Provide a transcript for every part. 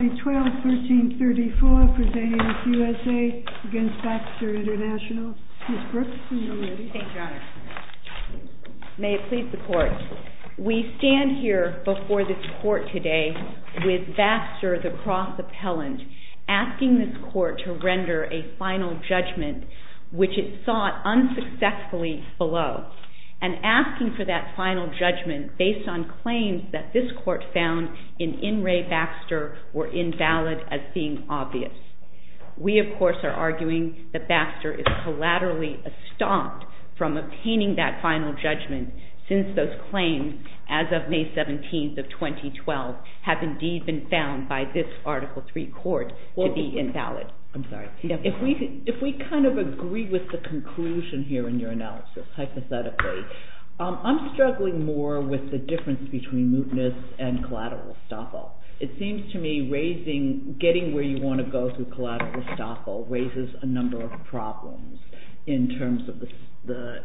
May it please the court, we stand here before this court today with Baxter the cross appellant, asking this court to render a final judgment which it sought unsuccessfully below, and asking for that final judgment based on claims that this court found in In Re. Baxter, World War II. were invalid as being obvious. We, of course, are arguing that Baxter is collaterally estomped from obtaining that final judgment since those claims, as of May 17th of 2012, have indeed been found by this Article III court to be invalid. If we kind of agree with the conclusion here in your analysis, hypothetically, I'm struggling more with the difference between mootness and collateral estoppel. It seems to me getting where you want to go through collateral estoppel raises a number of problems in terms of the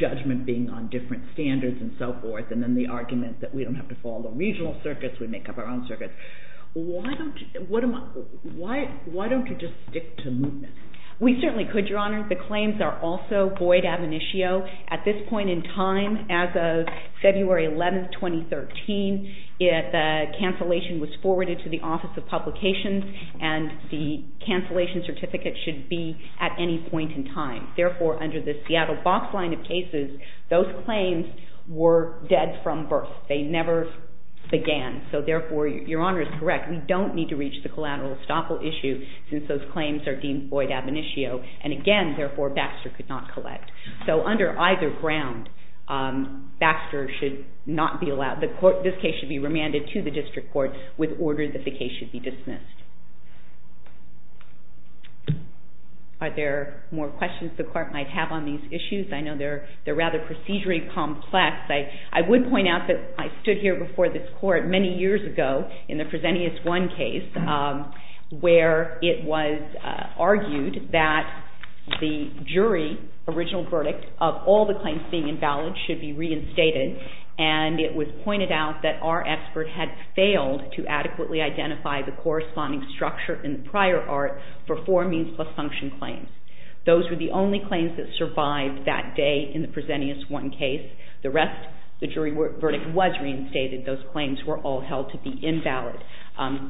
judgment being on different standards and so forth, and then the argument that we don't have to follow regional circuits, we make up our own circuits. Why don't you just stick to mootness? We certainly could, Your Honor. The claims are also void ab initio. At this point in time, as of February 11th, 2013, the cancellation was forwarded to the Office of Publications, and the cancellation certificate should be at any point in time. Therefore, under the Seattle box line of cases, those claims were dead from birth. They never began. Therefore, Your Honor is correct. We don't need to reach the collateral estoppel issue since those claims are deemed void ab initio, and again, therefore, Baxter could not collect. So under either ground, Baxter should not be allowed, this case should be remanded to the district court with order that the case should be dismissed. Are there more questions the Court might have on these issues? I know they're rather procedurally complex. I would point out that I stood here before this Court many years ago in the Presenteus I case, where it was argued that the jury original verdict of all the claims being invalid should be reinstated, and it was pointed out that our expert had failed to adequately identify the corresponding claims. Those were the only claims that survived that day in the Presenteus I case. The rest, the jury verdict was reinstated. Those claims were all held to be invalid.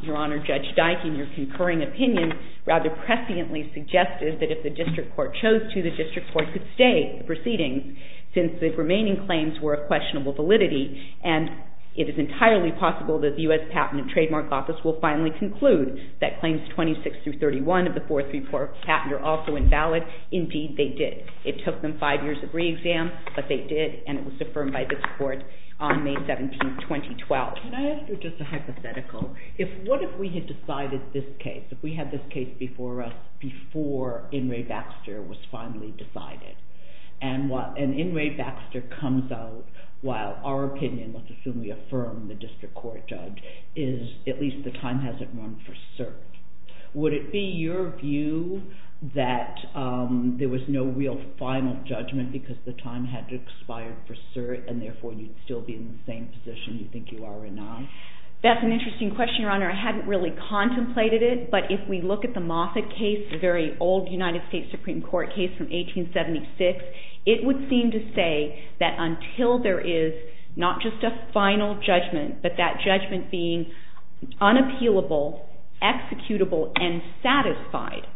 Your Honor, Judge Dike, in your concurring opinion, rather presciently suggested that if the district court chose to, the district court could stay in the proceedings, since the remaining claims were of questionable validity, and it is entirely possible that the U.S. Patent and Trademark Office will finally conclude that the claims were invalid. That claims 26-31 of the 434 patent are also invalid. Indeed, they did. It took them five years of re-exam, but they did, and it was affirmed by this Court on May 17, 2012. Can I ask you just a hypothetical? What if we had decided this case, if we had this case before us, before In re Baxter was finally decided, and In re Baxter comes out while our opinion, let's assume we affirm the district court judge, is at least the time hasn't run for cert. Would it be your view that there was no real final judgment because the time had expired for cert, and therefore you'd still be in the same position you think you are or not? That's an interesting question, Your Honor. I hadn't really contemplated it, but if we look at the Moffitt case, a very old United States Supreme Court case from 1876, it would seem to say that until there is not just a final judgment, but that judgment being unappealable, executable, and satisfied,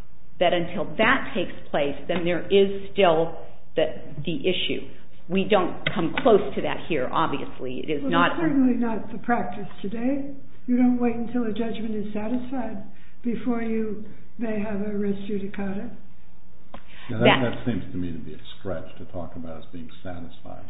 that until that takes place, then there is still the issue. We don't come close to that here, obviously. It is certainly not the practice today. You don't wait until a judgment is satisfied before you may have a res judicata. That seems to me to be a stretch to talk about as being satisfied.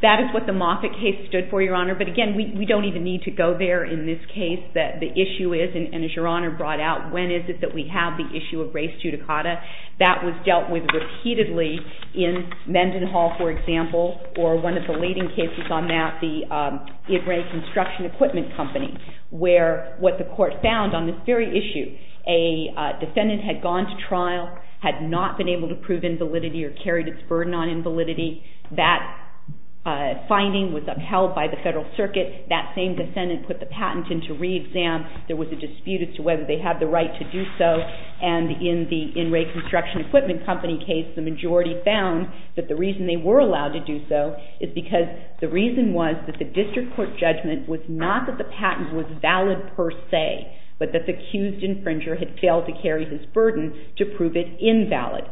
That is what the Moffitt case stood for, Your Honor. But again, we don't even need to go there in this case. The issue is, and as Your Honor brought out, when is it that we have the issue of res judicata? That was dealt with repeatedly in Mendenhall, for example, or one of the leading cases on that, the In Re Construction Equipment Company, where what the court found on this very issue, a defendant had gone to trial, had not been able to prove invalidity or carried its burden on invalidity. That finding was upheld by the Federal Circuit. That same defendant put the patent into re-exam. There was a dispute as to whether they had the right to do so. And in the In Re Construction Equipment Company case, the majority found that the reason they were allowed to do so is because the reason was that the district court judgment was not that the patent was valid per se, but that the accused infringer had failed to carry his burden to prove it invalid.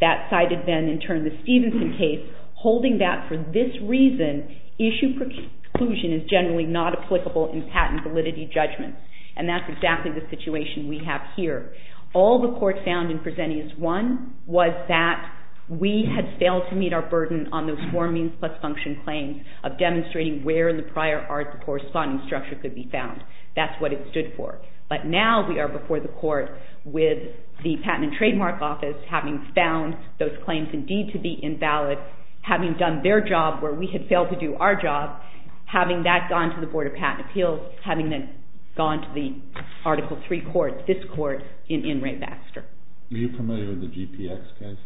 That cited then, in turn, the Stevenson case, holding that for this reason, issue preclusion is generally not applicable in patent validity judgment. And that's exactly the situation we have here. All the courts found in Presentious 1 was that we had failed to meet our burden on those four means plus function claims of demonstrating where in the prior art the corresponding structure could be found. That's what it stood for. But now we are before the court with the Patent and Trademark Office having found those claims indeed to be invalid, having done their job where we had failed to do our job, having that gone to the Board of Patent Appeals, having that gone to the Article 3 court, this court, in In Re Baxter. Are you familiar with the GPX case?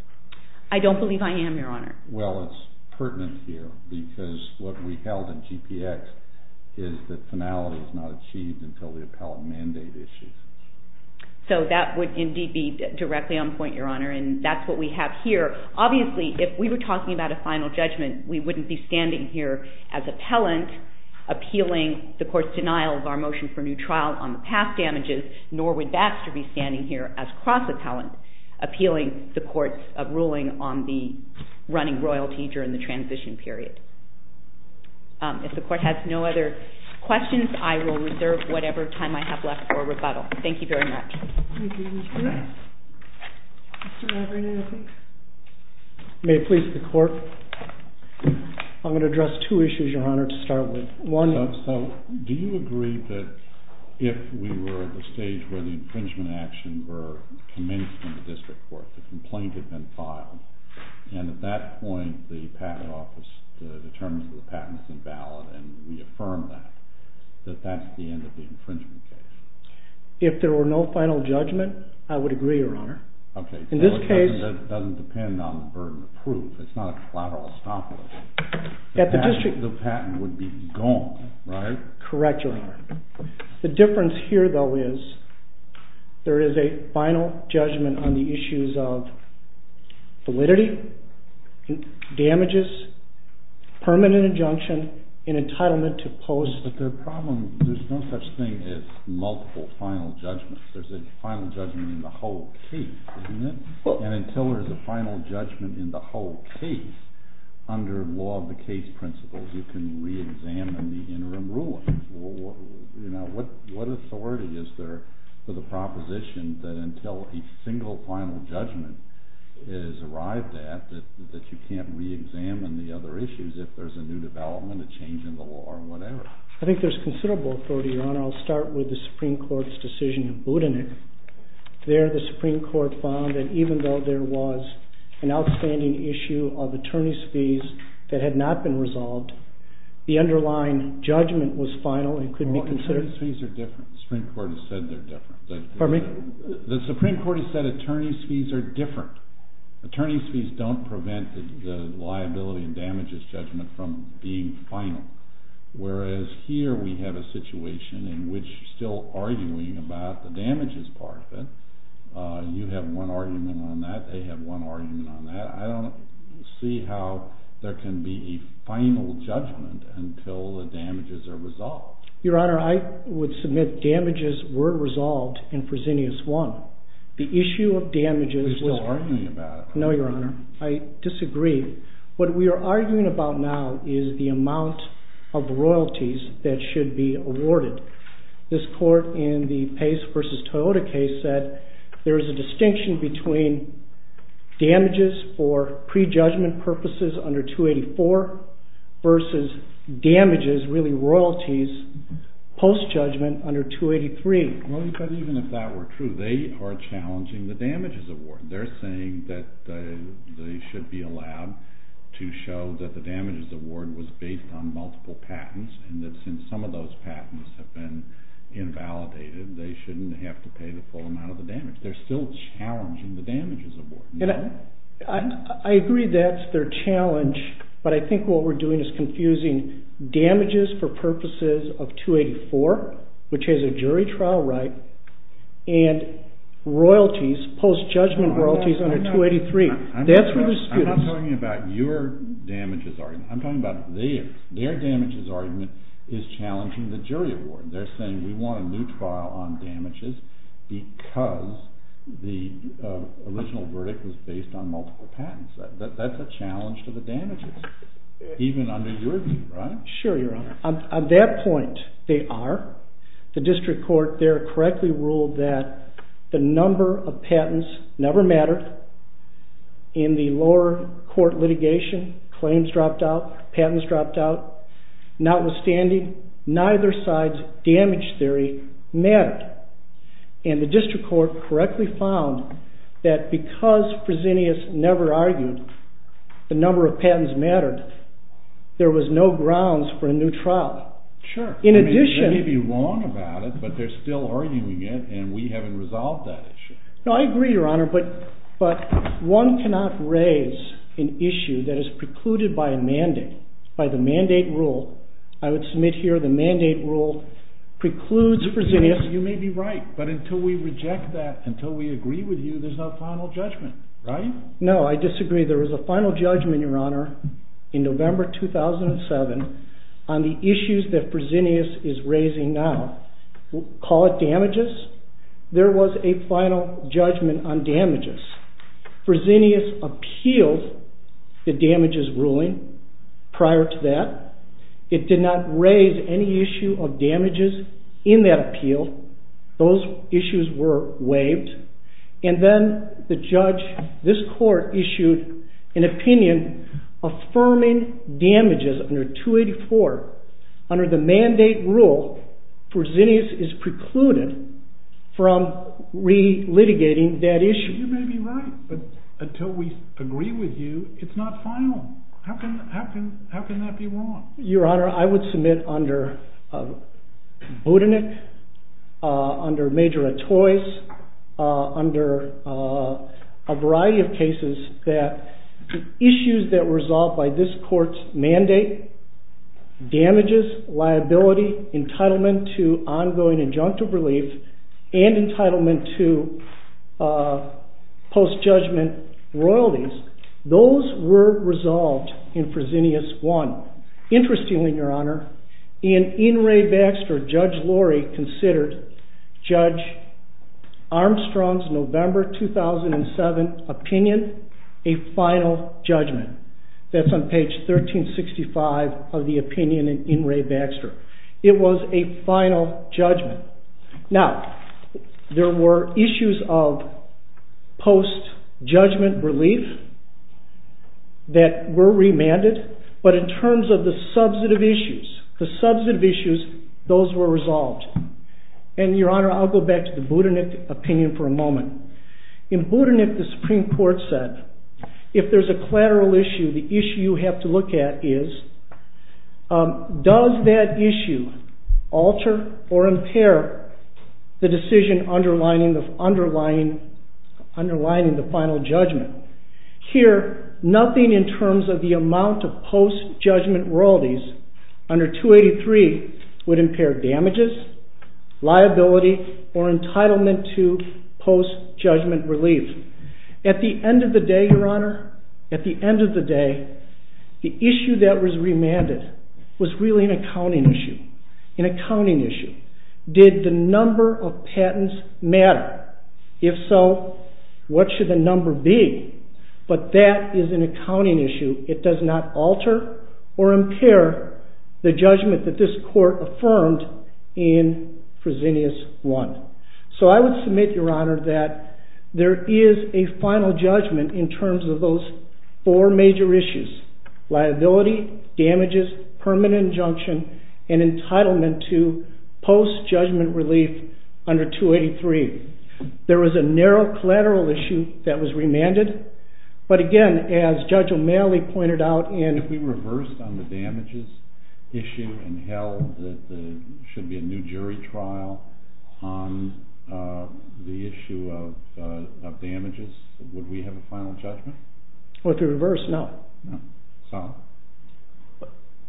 I don't believe I am, Your Honor. Well, it's pertinent here because what we held in GPX is that finality is not achieved until the appellant mandate issues. So that would indeed be directly on point, Your Honor, and that's what we have here. Obviously, if we were talking about a final judgment, we wouldn't be standing here as appellant appealing the court's denial of our motion for new trial on the past damages, nor would Baxter be standing here as cross-appellant appealing the court's ruling on the running royalty during the transition period. If the court has no other questions, I will reserve whatever time I have left for rebuttal. Thank you very much. Thank you, Mr. Rafferty. Mr. Rafferty, I think. May it please the court. I'm going to address two issues, Your Honor, to start with. So, do you agree that if we were at the stage where the infringement action were commenced in the district court, the complaint had been filed, and at that point the patent office determined that the patent was invalid and reaffirmed that, that that's the end of the infringement case? If there were no final judgment, I would agree, Your Honor. Okay. In this case. It doesn't depend on the burden of proof. It's not a collateral stop loss. The patent would be gone, right? Correct, Your Honor. The difference here, though, is there is a final judgment on the issues of validity, damages, permanent injunction, and entitlement to post. But the problem, there's no such thing as multiple final judgments. There's a final judgment in the whole case, isn't there? And until there's a final judgment in the whole case, under law of the case principles, you can reexamine the interim ruling. What authority is there for the proposition that until a single final judgment is arrived at, that you can't reexamine the other issues if there's a new development, a change in the law, or whatever? I think there's considerable authority, Your Honor. I'll start with the Supreme Court's decision in Budenich. There, the Supreme Court found that even though there was an outstanding issue of attorney's fees that had not been resolved, the underlying judgment was final and could be considered… The Supreme Court has said they're different. The Supreme Court has said attorney's fees are different. Attorney's fees don't prevent the liability and damages judgment from being final. Whereas here, we have a situation in which still arguing about the damages part of it, you have one argument on that, they have one argument on that. I don't see how there can be a final judgment until the damages are resolved. Your Honor, I would submit damages were resolved in Fresenius 1. The issue of damages… We're still arguing about it. This court in the Pace v. Toyota case said there is a distinction between damages for pre-judgment purposes under 284 versus damages, really royalties, post-judgment under 283. But even if that were true, they are challenging the damages award. They're saying that they should be allowed to show that the damages award was based on multiple patents and that since some of those patents have been invalidated, they shouldn't have to pay the full amount of the damage. They're still challenging the damages award. I agree that's their challenge, but I think what we're doing is confusing damages for purposes of 284, which is a jury trial right, and royalties, post-judgment royalties under 283. I'm not talking about your damages argument, I'm talking about theirs. Their damages argument is challenging the jury award. They're saying we want a new trial on damages because the original verdict was based on multiple patents. That's a challenge to the damages, even under your view, right? Sure, your honor. On that point, they are. The district court there correctly ruled that the number of patents never mattered. In the lower court litigation, claims dropped out, patents dropped out. Notwithstanding, neither side's damage theory mattered. And the district court correctly found that because Fresenius never argued the number of patents mattered, there was no grounds for a new trial. In addition... Sure, they may be wrong about it, but they're still arguing it and we haven't resolved that issue. No, I agree, your honor, but one cannot raise an issue that is precluded by a mandate, by the mandate rule. I would submit here the mandate rule precludes Fresenius... You may be right, but until we reject that, until we agree with you, there's no final judgment, right? No, I disagree. There was a final judgment, your honor, in November 2007 on the issues that Fresenius is raising now. We'll call it damages. There was a final judgment on damages. Fresenius appealed the damages ruling prior to that. It did not raise any issue of damages in that appeal. Those issues were waived. And then the judge, this court, issued an opinion affirming damages under 284 under the mandate rule Fresenius is precluded from re-litigating that issue. You may be right, but until we agree with you, it's not final. How can that be wrong? Your honor, I would submit under Budenik, under Major Attoys, under a variety of cases that issues that were resolved by this court's mandate, damages, liability, entitlement to ongoing injunctive relief, and entitlement to post-judgment royalties, those were resolved in Fresenius I. Interestingly, your honor, in In re Baxter, Judge Lorry considered Judge Armstrong's November 2007 opinion a final judgment. That's on page 1365 of the opinion in In re Baxter. It was a final judgment. Now, there were issues of post-judgment relief that were remanded, but in terms of the substantive issues, those were resolved. And your honor, I'll go back to the Budenik opinion for a moment. In Budenik, the Supreme Court said, if there's a collateral issue, the issue you have to look at is, does that issue alter or impair the decision underlining the final judgment? Here, nothing in terms of the amount of post-judgment royalties under 283 would impair damages, liability, or entitlement to post-judgment relief. At the end of the day, your honor, at the end of the day, the issue that was remanded was really an accounting issue. Did the number of patents matter? If so, what should the number be? But that is an accounting issue. It does not alter or impair the judgment that this court affirmed in Fresenius I. So I would submit, your honor, that there is a final judgment in terms of those four major issues. Liability, damages, permanent injunction, and entitlement to post-judgment relief under 283. There was a narrow collateral issue that was remanded, but again, as Judge O'Malley pointed out in… If we reversed on the damages issue and held that there should be a new jury trial on the issue of damages, would we have a final judgment? If we reversed, no.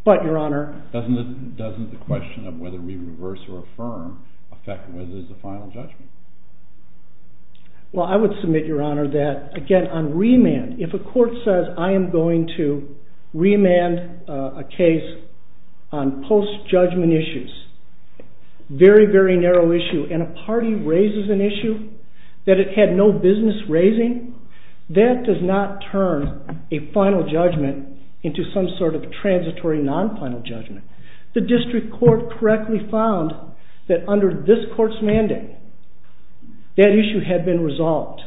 But, your honor… Doesn't the question of whether we reverse or affirm affect whether there is a final judgment? Well, I would submit, your honor, that, again, on remand, if a court says, I am going to remand a case on post-judgment issues, very, very narrow issue, and a party raises an issue that it had no business raising, that does not turn a final judgment into some sort of transitory non-final judgment. The district court correctly found that under this court's mandate, that issue had been resolved.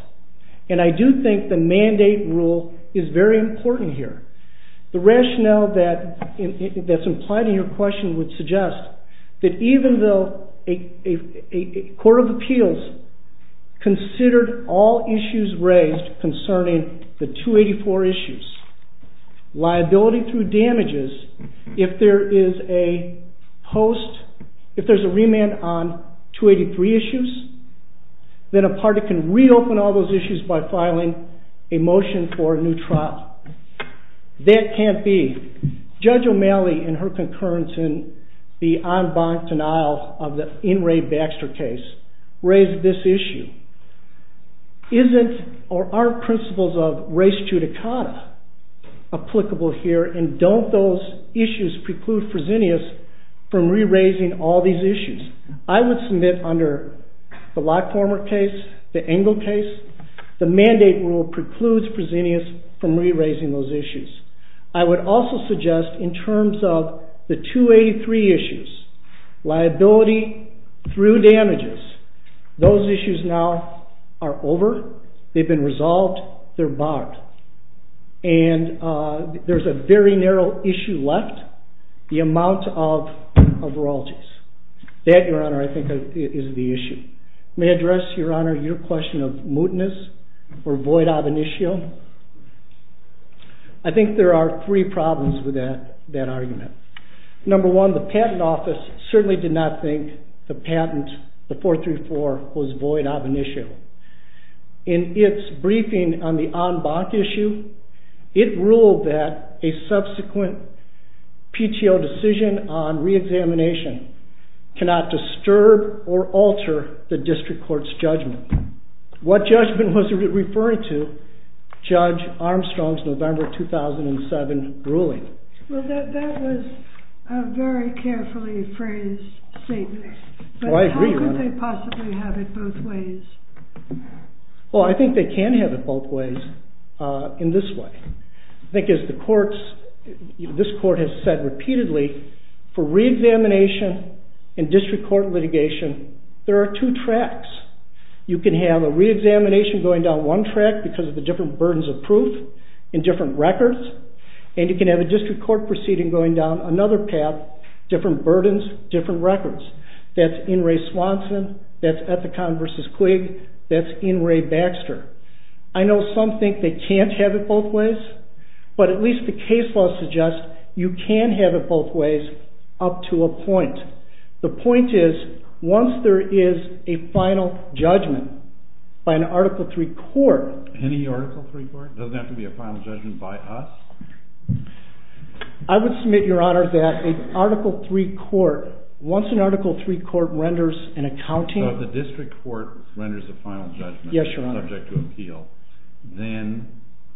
And I do think the mandate rule is very important here. The rationale that's implied in your question would suggest that even though a court of appeals considered all issues raised concerning the 284 issues, liability through damages, if there is a host, if there is a remand on 283 issues, then a party can reopen all those issues by filing a motion for a new trial. That can't be. Judge O'Malley, in her concurrence in the en banc denial of the N. Ray Baxter case, raised this issue. Aren't principles of res judicata applicable here, and don't those issues preclude Fresenius from re-raising all these issues? I would submit under the Lockformer case, the Engle case, the mandate rule precludes Fresenius from re-raising those issues. I would also suggest in terms of the 283 issues, liability through damages, those issues now are over, they've been resolved, they're barred. And there's a very narrow issue left, the amount of royalties. That, your honor, I think is the issue. May I address, your honor, your question of mootness or void ab initio? I think there are three problems with that argument. Number one, the patent office certainly did not think the patent, the 434, was void ab initio. In its briefing on the en banc issue, it ruled that a subsequent PTO decision on re-examination cannot disturb or alter the district court's judgment. What judgment was it referring to? Judge Armstrong's November 2007 ruling. Well that was a very carefully phrased statement, but how could they possibly have it both ways? Well I think they can have it both ways in this way. I think as the courts, this court has said repeatedly, for re-examination and district court litigation, there are two tracks. You can have a re-examination going down one track because of the different burdens of proof and different records, and you can have a district court proceeding going down another path, different burdens, different records. That's In re Swanson, that's Ethicon v. Quigg, that's In re Baxter. I know some think they can't have it both ways, but at least the case law suggests you can have it both ways up to a point. The point is, once there is a final judgment by an Article III court... Any Article III court? Doesn't have to be a final judgment by us? I would submit, Your Honor, that once an Article III court renders an accounting... So if the district court renders a final judgment subject to appeal, then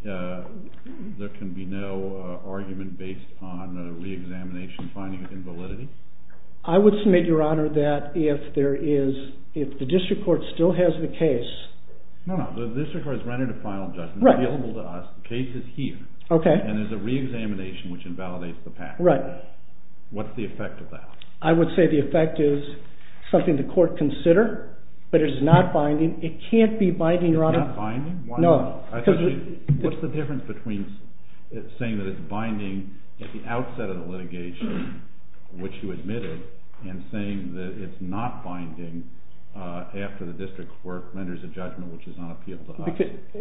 there can be no argument based on a re-examination finding of invalidity? I would submit, Your Honor, that if the district court still has the case... No, no, the district court has rendered a final judgment, it's available to us, the case is here, and there's a re-examination which invalidates the past. What's the effect of that? I would say the effect is something the court consider, but it's not binding. It can't be binding, Your Honor. It's not binding? Why not? What's the difference between saying that it's binding at the outset of the litigation, which you admitted, and saying that it's not binding after the district court renders a judgment which is on appeal to us?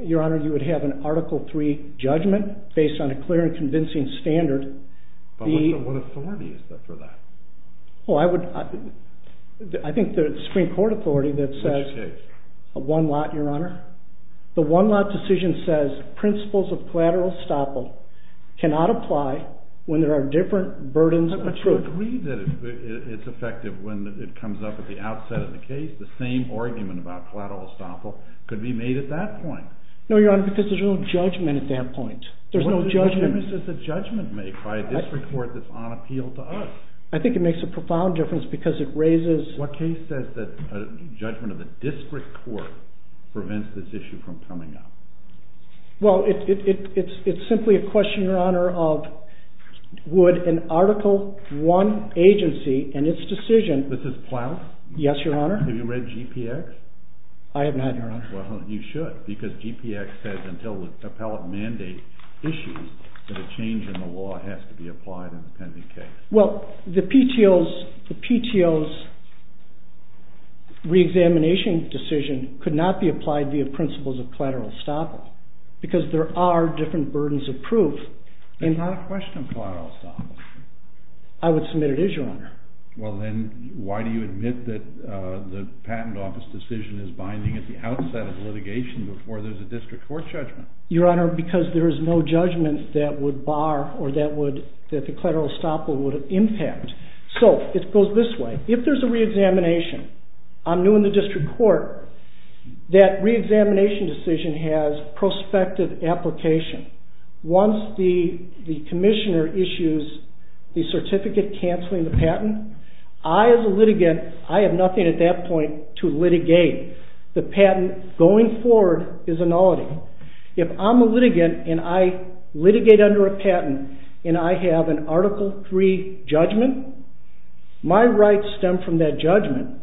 Your Honor, you would have an Article III judgment based on a clear and convincing standard. But what authority is there for that? I think the Supreme Court authority that says... Which case? A one-lot, Your Honor. The one-lot decision says principles of collateral estoppel cannot apply when there are different burdens of proof. I agree that it's effective when it comes up at the outset of the case. The same argument about collateral estoppel could be made at that point. No, Your Honor, because there's no judgment at that point. There's no judgment... What difference does the judgment make by a district court that's on appeal to us? I think it makes a profound difference because it raises... What case says that a judgment of the district court prevents this issue from coming up? Well, it's simply a question, Your Honor, of would an Article I agency and its decision... This is Plow? Yes, Your Honor. Have you read GPX? I have not, Your Honor. Well, you should, because GPX says until the appellate mandate issues that a change in the law has to be applied in the pending case. Well, the PTO's reexamination decision could not be applied via principles of collateral estoppel because there are different burdens of proof. That's not a question of collateral estoppel. I would submit it is, Your Honor. Well, then, why do you admit that the Patent Office decision is binding at the outset of litigation before there's a district court judgment? Your Honor, because there is no judgment that would bar or that the collateral estoppel would impact. So, it goes this way. If there's a reexamination, I'm new in the district court, that reexamination decision has prospective application. Once the commissioner issues the certificate canceling the patent, I, as a litigant, I have nothing at that point to litigate. The patent going forward is a nullity. If I'm a litigant and I litigate under a patent and I have an Article III judgment, my rights stem from that judgment.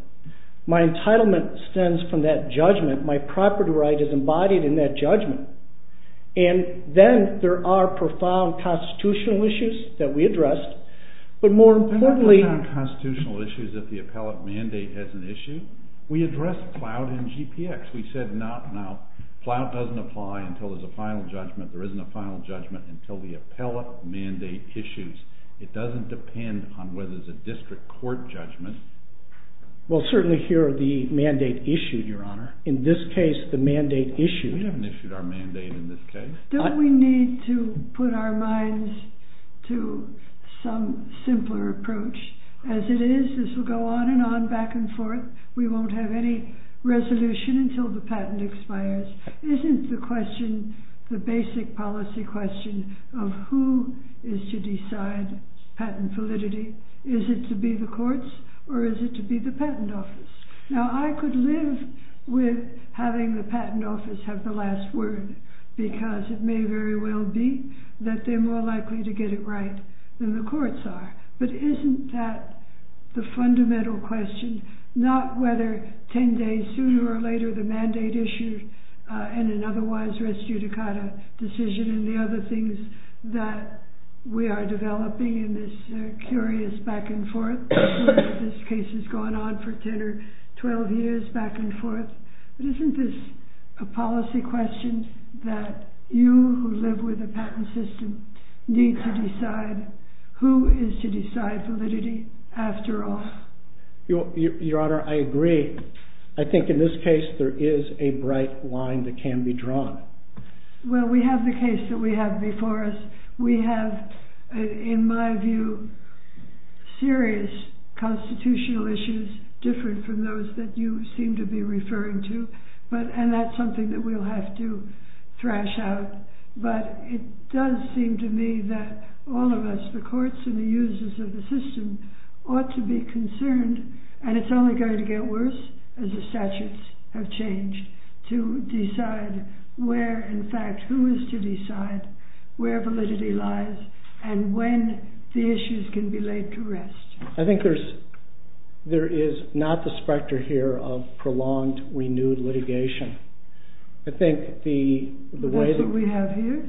My entitlement stems from that judgment. My property right is embodied in that judgment. And then, there are profound constitutional issues that we address, but more importantly… Ploutt doesn't apply until there's a final judgment. There isn't a final judgment until the appellate mandate issues. It doesn't depend on whether there's a district court judgment. Well, certainly, here are the mandate issues. Your Honor. In this case, the mandate issues. We haven't issued our mandate in this case. Don't we need to put our minds to some simpler approach? As it is, this will go on and on, back and forth. We won't have any resolution until the patent expires. Isn't the question, the basic policy question of who is to decide patent validity, is it to be the courts or is it to be the patent office? Now, I could live with having the patent office have the last word, because it may very well be that they're more likely to get it right than the courts are. But isn't that the fundamental question? Not whether 10 days sooner or later the mandate issue and an otherwise res judicata decision and the other things that we are developing in this curious back and forth. This case has gone on for 10 or 12 years back and forth. But isn't this a policy question that you, who live with a patent system, need to decide who is to decide validity after all? Your Honor, I agree. I think in this case there is a bright line that can be drawn. Well, we have the case that we have before us. We have, in my view, serious constitutional issues different from those that you seem to be referring to. And that's something that we'll have to thrash out. But it does seem to me that all of us, the courts and the users of the system, ought to be concerned, and it's only going to get worse as the statutes have changed, to decide where, in fact, who is to decide where validity lies and when the issues can be laid to rest. I think there is not the specter here of prolonged, renewed litigation. I think the way... But that's what we have here?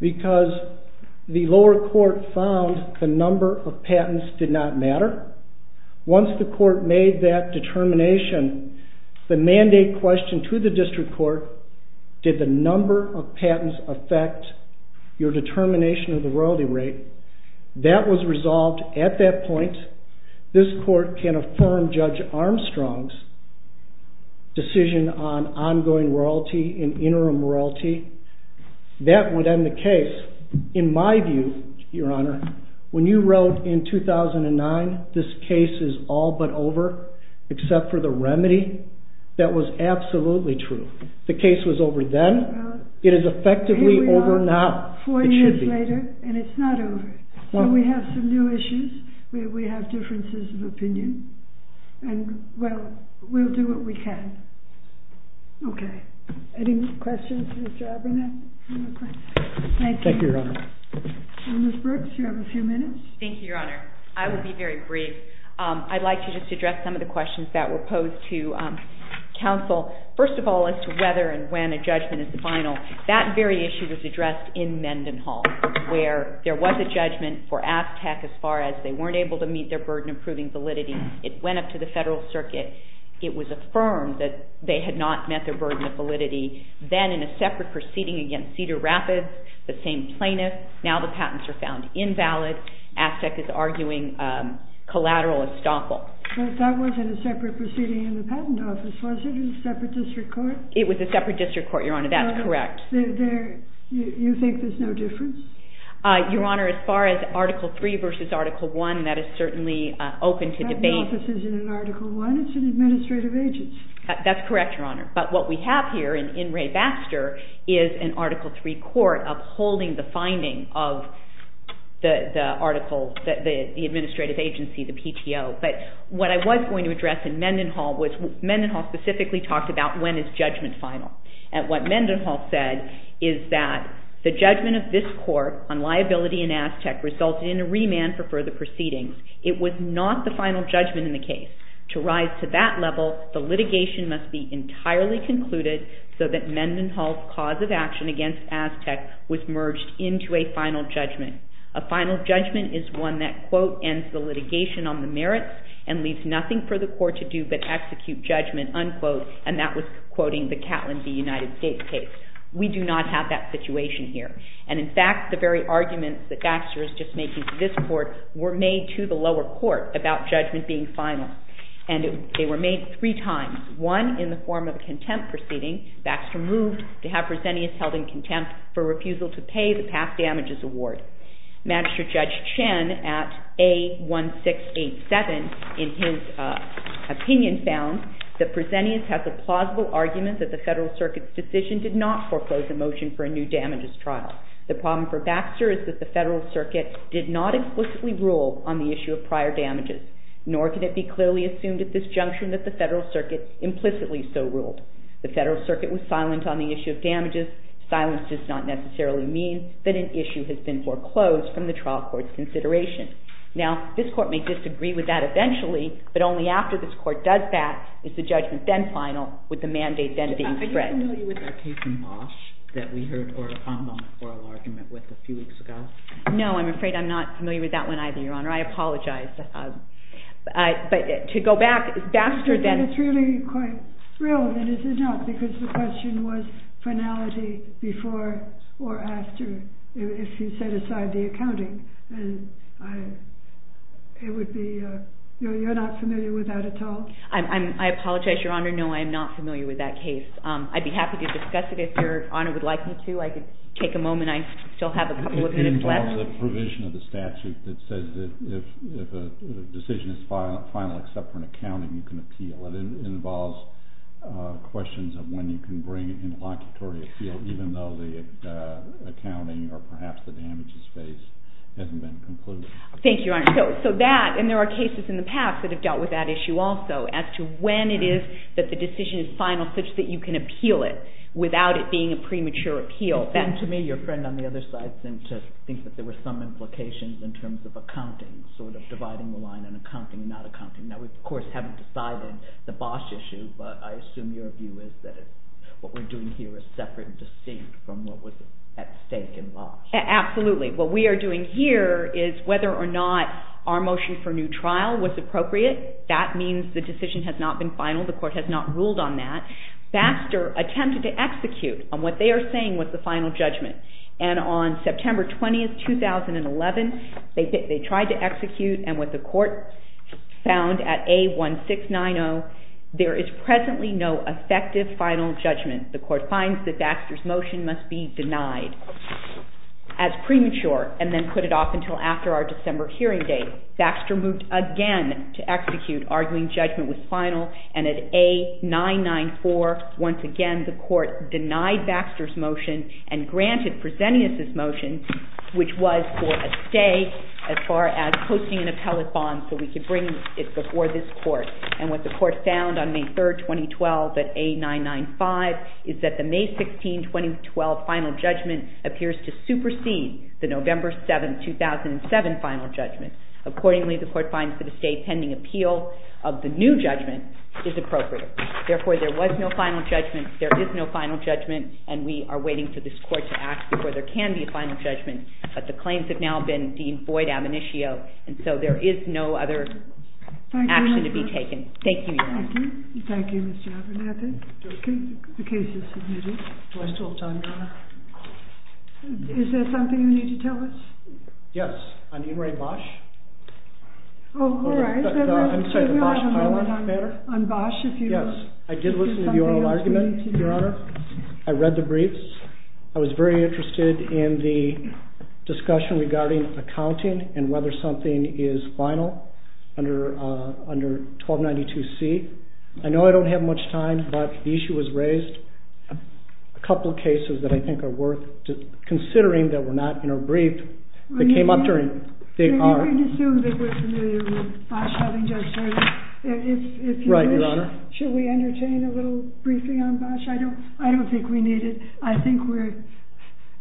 Because the lower court found the number of patents did not matter. Once the court made that determination, the mandate questioned to the district court, did the number of patents affect your determination of the royalty rate? That was resolved at that point. This court can affirm Judge Armstrong's decision on ongoing royalty and interim royalty. That would end the case. In my view, Your Honor, when you wrote in 2009, this case is all but over, except for the remedy, that was absolutely true. The case was over then. It is effectively over now. Here we are, four years later, and it's not over. So we have some new issues. We have differences of opinion. And, well, we'll do what we can. Okay. Any questions for Mr. Abernathy? Thank you, Your Honor. Ms. Brooks, you have a few minutes. Thank you, Your Honor. I will be very brief. I'd like to just address some of the questions that were posed to counsel. First of all, as to whether and when a judgment is final, that very issue was addressed in Mendenhall, where there was a judgment for AFTEC as far as they weren't able to meet their burden of proving validity. It went up to the Federal Circuit. It was affirmed that they had not met their burden of validity. Then, in a separate proceeding against Cedar Rapids, the same plaintiff, now the patents are found invalid. AFTEC is arguing collateral estoppel. But that wasn't a separate proceeding in the Patent Office, was it? It was a separate district court? It was a separate district court, Your Honor. That's correct. You think there's no difference? Your Honor, as far as Article III versus Article I, that is certainly open to debate. The Patent Office isn't in Article I. It's an administrative agency. That's correct, Your Honor. But what we have here in Ray Baxter is an Article III court upholding the finding of the administrative agency, the PTO. But what I was going to address in Mendenhall was Mendenhall specifically talked about when is judgment final. And what Mendenhall said is that the judgment of this court on liability in AFTEC resulted in a remand for further proceedings. It was not the final judgment in the case. To rise to that level, the litigation must be entirely concluded so that Mendenhall's cause of action against AFTEC was merged into a final judgment. A final judgment is one that, quote, ends the litigation on the merits and leaves nothing for the court to do but execute judgment, unquote. And that was quoting the Catlin v. United States case. We do not have that situation here. And, in fact, the very arguments that Baxter is just making to this court were made to the lower court about judgment being final. And they were made three times. One, in the form of a contempt proceeding, Baxter moved to have Presenius held in contempt for refusal to pay the past damages award. Magistrate Judge Chen at A1687, in his opinion, found that Presenius has a plausible argument that the Federal Circuit's decision did not foreclose a motion for a new damages trial. The problem for Baxter is that the Federal Circuit did not explicitly rule on the issue of prior damages, nor could it be clearly assumed at this junction that the Federal Circuit implicitly so ruled. The Federal Circuit was silent on the issue of damages. Silence does not necessarily mean that an issue has been foreclosed from the trial court's consideration. Now, this court may disagree with that eventually, but only after this court does that is the judgment then final with the mandate then being spread. Are you familiar with that case in Bosch that we heard oral argument with a few weeks ago? No, I'm afraid I'm not familiar with that one either, Your Honor. I apologize. But to go back, Baxter then... I think it's really quite real, and it is not, because the question was finality before or after, if you set aside the accounting. It would be, you're not familiar with that at all? I apologize, Your Honor. No, I am not familiar with that case. I'd be happy to discuss it if Your Honor would like me to. I could take a moment. I still have a couple of minutes left. It involves a provision of the statute that says that if a decision is final except for an accounting, you can appeal. It involves questions of when you can bring an interlocutory appeal, even though the accounting or perhaps the damages faced hasn't been concluded. Thank you, Your Honor. So that, and there are cases in the past that have dealt with that issue also, as to when it is that the decision is final such that you can appeal it without it being a premature appeal. And to me, your friend on the other side seemed to think that there were some implications in terms of accounting, sort of dividing the line on accounting and not accounting. Now, we, of course, haven't decided the Bosch issue, but I assume your view is that what we're doing here is separate and distinct from what was at stake in Bosch. Absolutely. What we are doing here is whether or not our motion for new trial was appropriate. That means the decision has not been final. The court has not ruled on that. Baxter attempted to execute on what they are saying was the final judgment. And on September 20, 2011, they tried to execute, and what the court found at A1690, there is presently no effective final judgment. The court finds that Baxter's motion must be denied as premature and then put it off until after our December hearing date. Baxter moved again to execute, arguing judgment was final. And at A994, once again, the court denied Baxter's motion and granted Presenius' motion, which was for a stay as far as posting an appellate bond so we could bring it before this court. And what the court found on May 3, 2012, at A995, is that the May 16, 2012 final judgment appears to supersede the November 7, 2007 final judgment. Accordingly, the court finds that a stay pending appeal of the new judgment is appropriate. Therefore, there was no final judgment, there is no final judgment, and we are waiting for this court to act before there can be a final judgment. But the claims have now been deemed void, admonitio, and so there is no other action to be taken. Thank you, Your Honor. Thank you. Thank you, Mr. Abernathy. The case is submitted. Do I still have time, Your Honor? Is there something you need to tell us? Yes, on Inouye Bosch. Oh, all right. I'm sorry, the Bosch-Harlan matter. On Bosch, if you don't mind. Yes, I did listen to your argument, Your Honor. I read the briefs. I was very interested in the discussion regarding accounting and whether something is final under 1292C. I know I don't have much time, but the issue was raised. A couple of cases that I think are worth considering that were not in our brief that came up during the hearing. We can assume that we're familiar with Bosch having just started. Right, Your Honor. Should we entertain a little briefing on Bosch? I don't think we need it. I think we're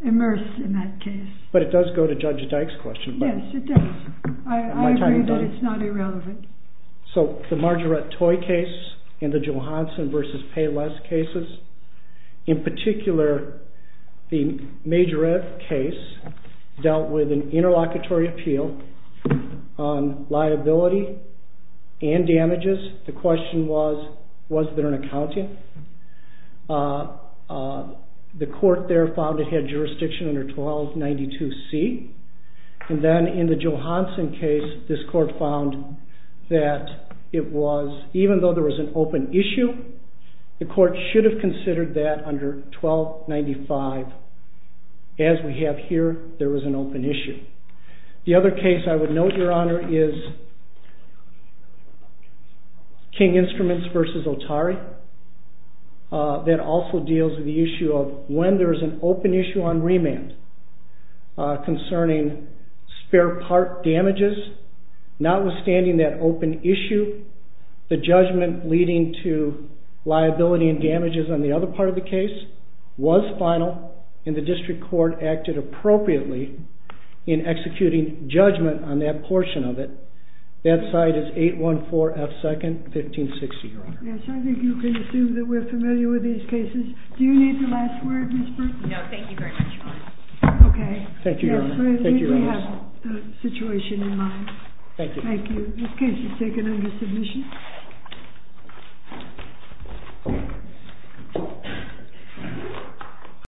immersed in that case. But it does go to Judge Dyke's question. Yes, it does. I agree that it's not irrelevant. So the Marjorette Toy case and the Johansson v. Payless cases. In particular, the Majorette case dealt with an interlocutory appeal on liability and damages. The question was, was there an accountant? The court there found it had jurisdiction under 1292C. And then in the Johansson case, this court found that even though there was an open issue, the court should have considered that under 1295. As we have here, there was an open issue. The other case I would note, Your Honor, is King Instruments v. Otari. That also deals with the issue of when there is an open issue on remand concerning spare part damages. Notwithstanding that open issue, the judgment leading to liability and damages on the other part of the case was final. And the district court acted appropriately in executing judgment on that portion of it. That side is 814F 2nd, 1560, Your Honor. Yes, I think you can assume that we're familiar with these cases. Do you need the last word, Ms. Burton? No, thank you very much, Your Honor. Thank you, Your Honor. Thank you, Your Honor. We have the situation in mind. Thank you. Thank you. This case is taken under submission.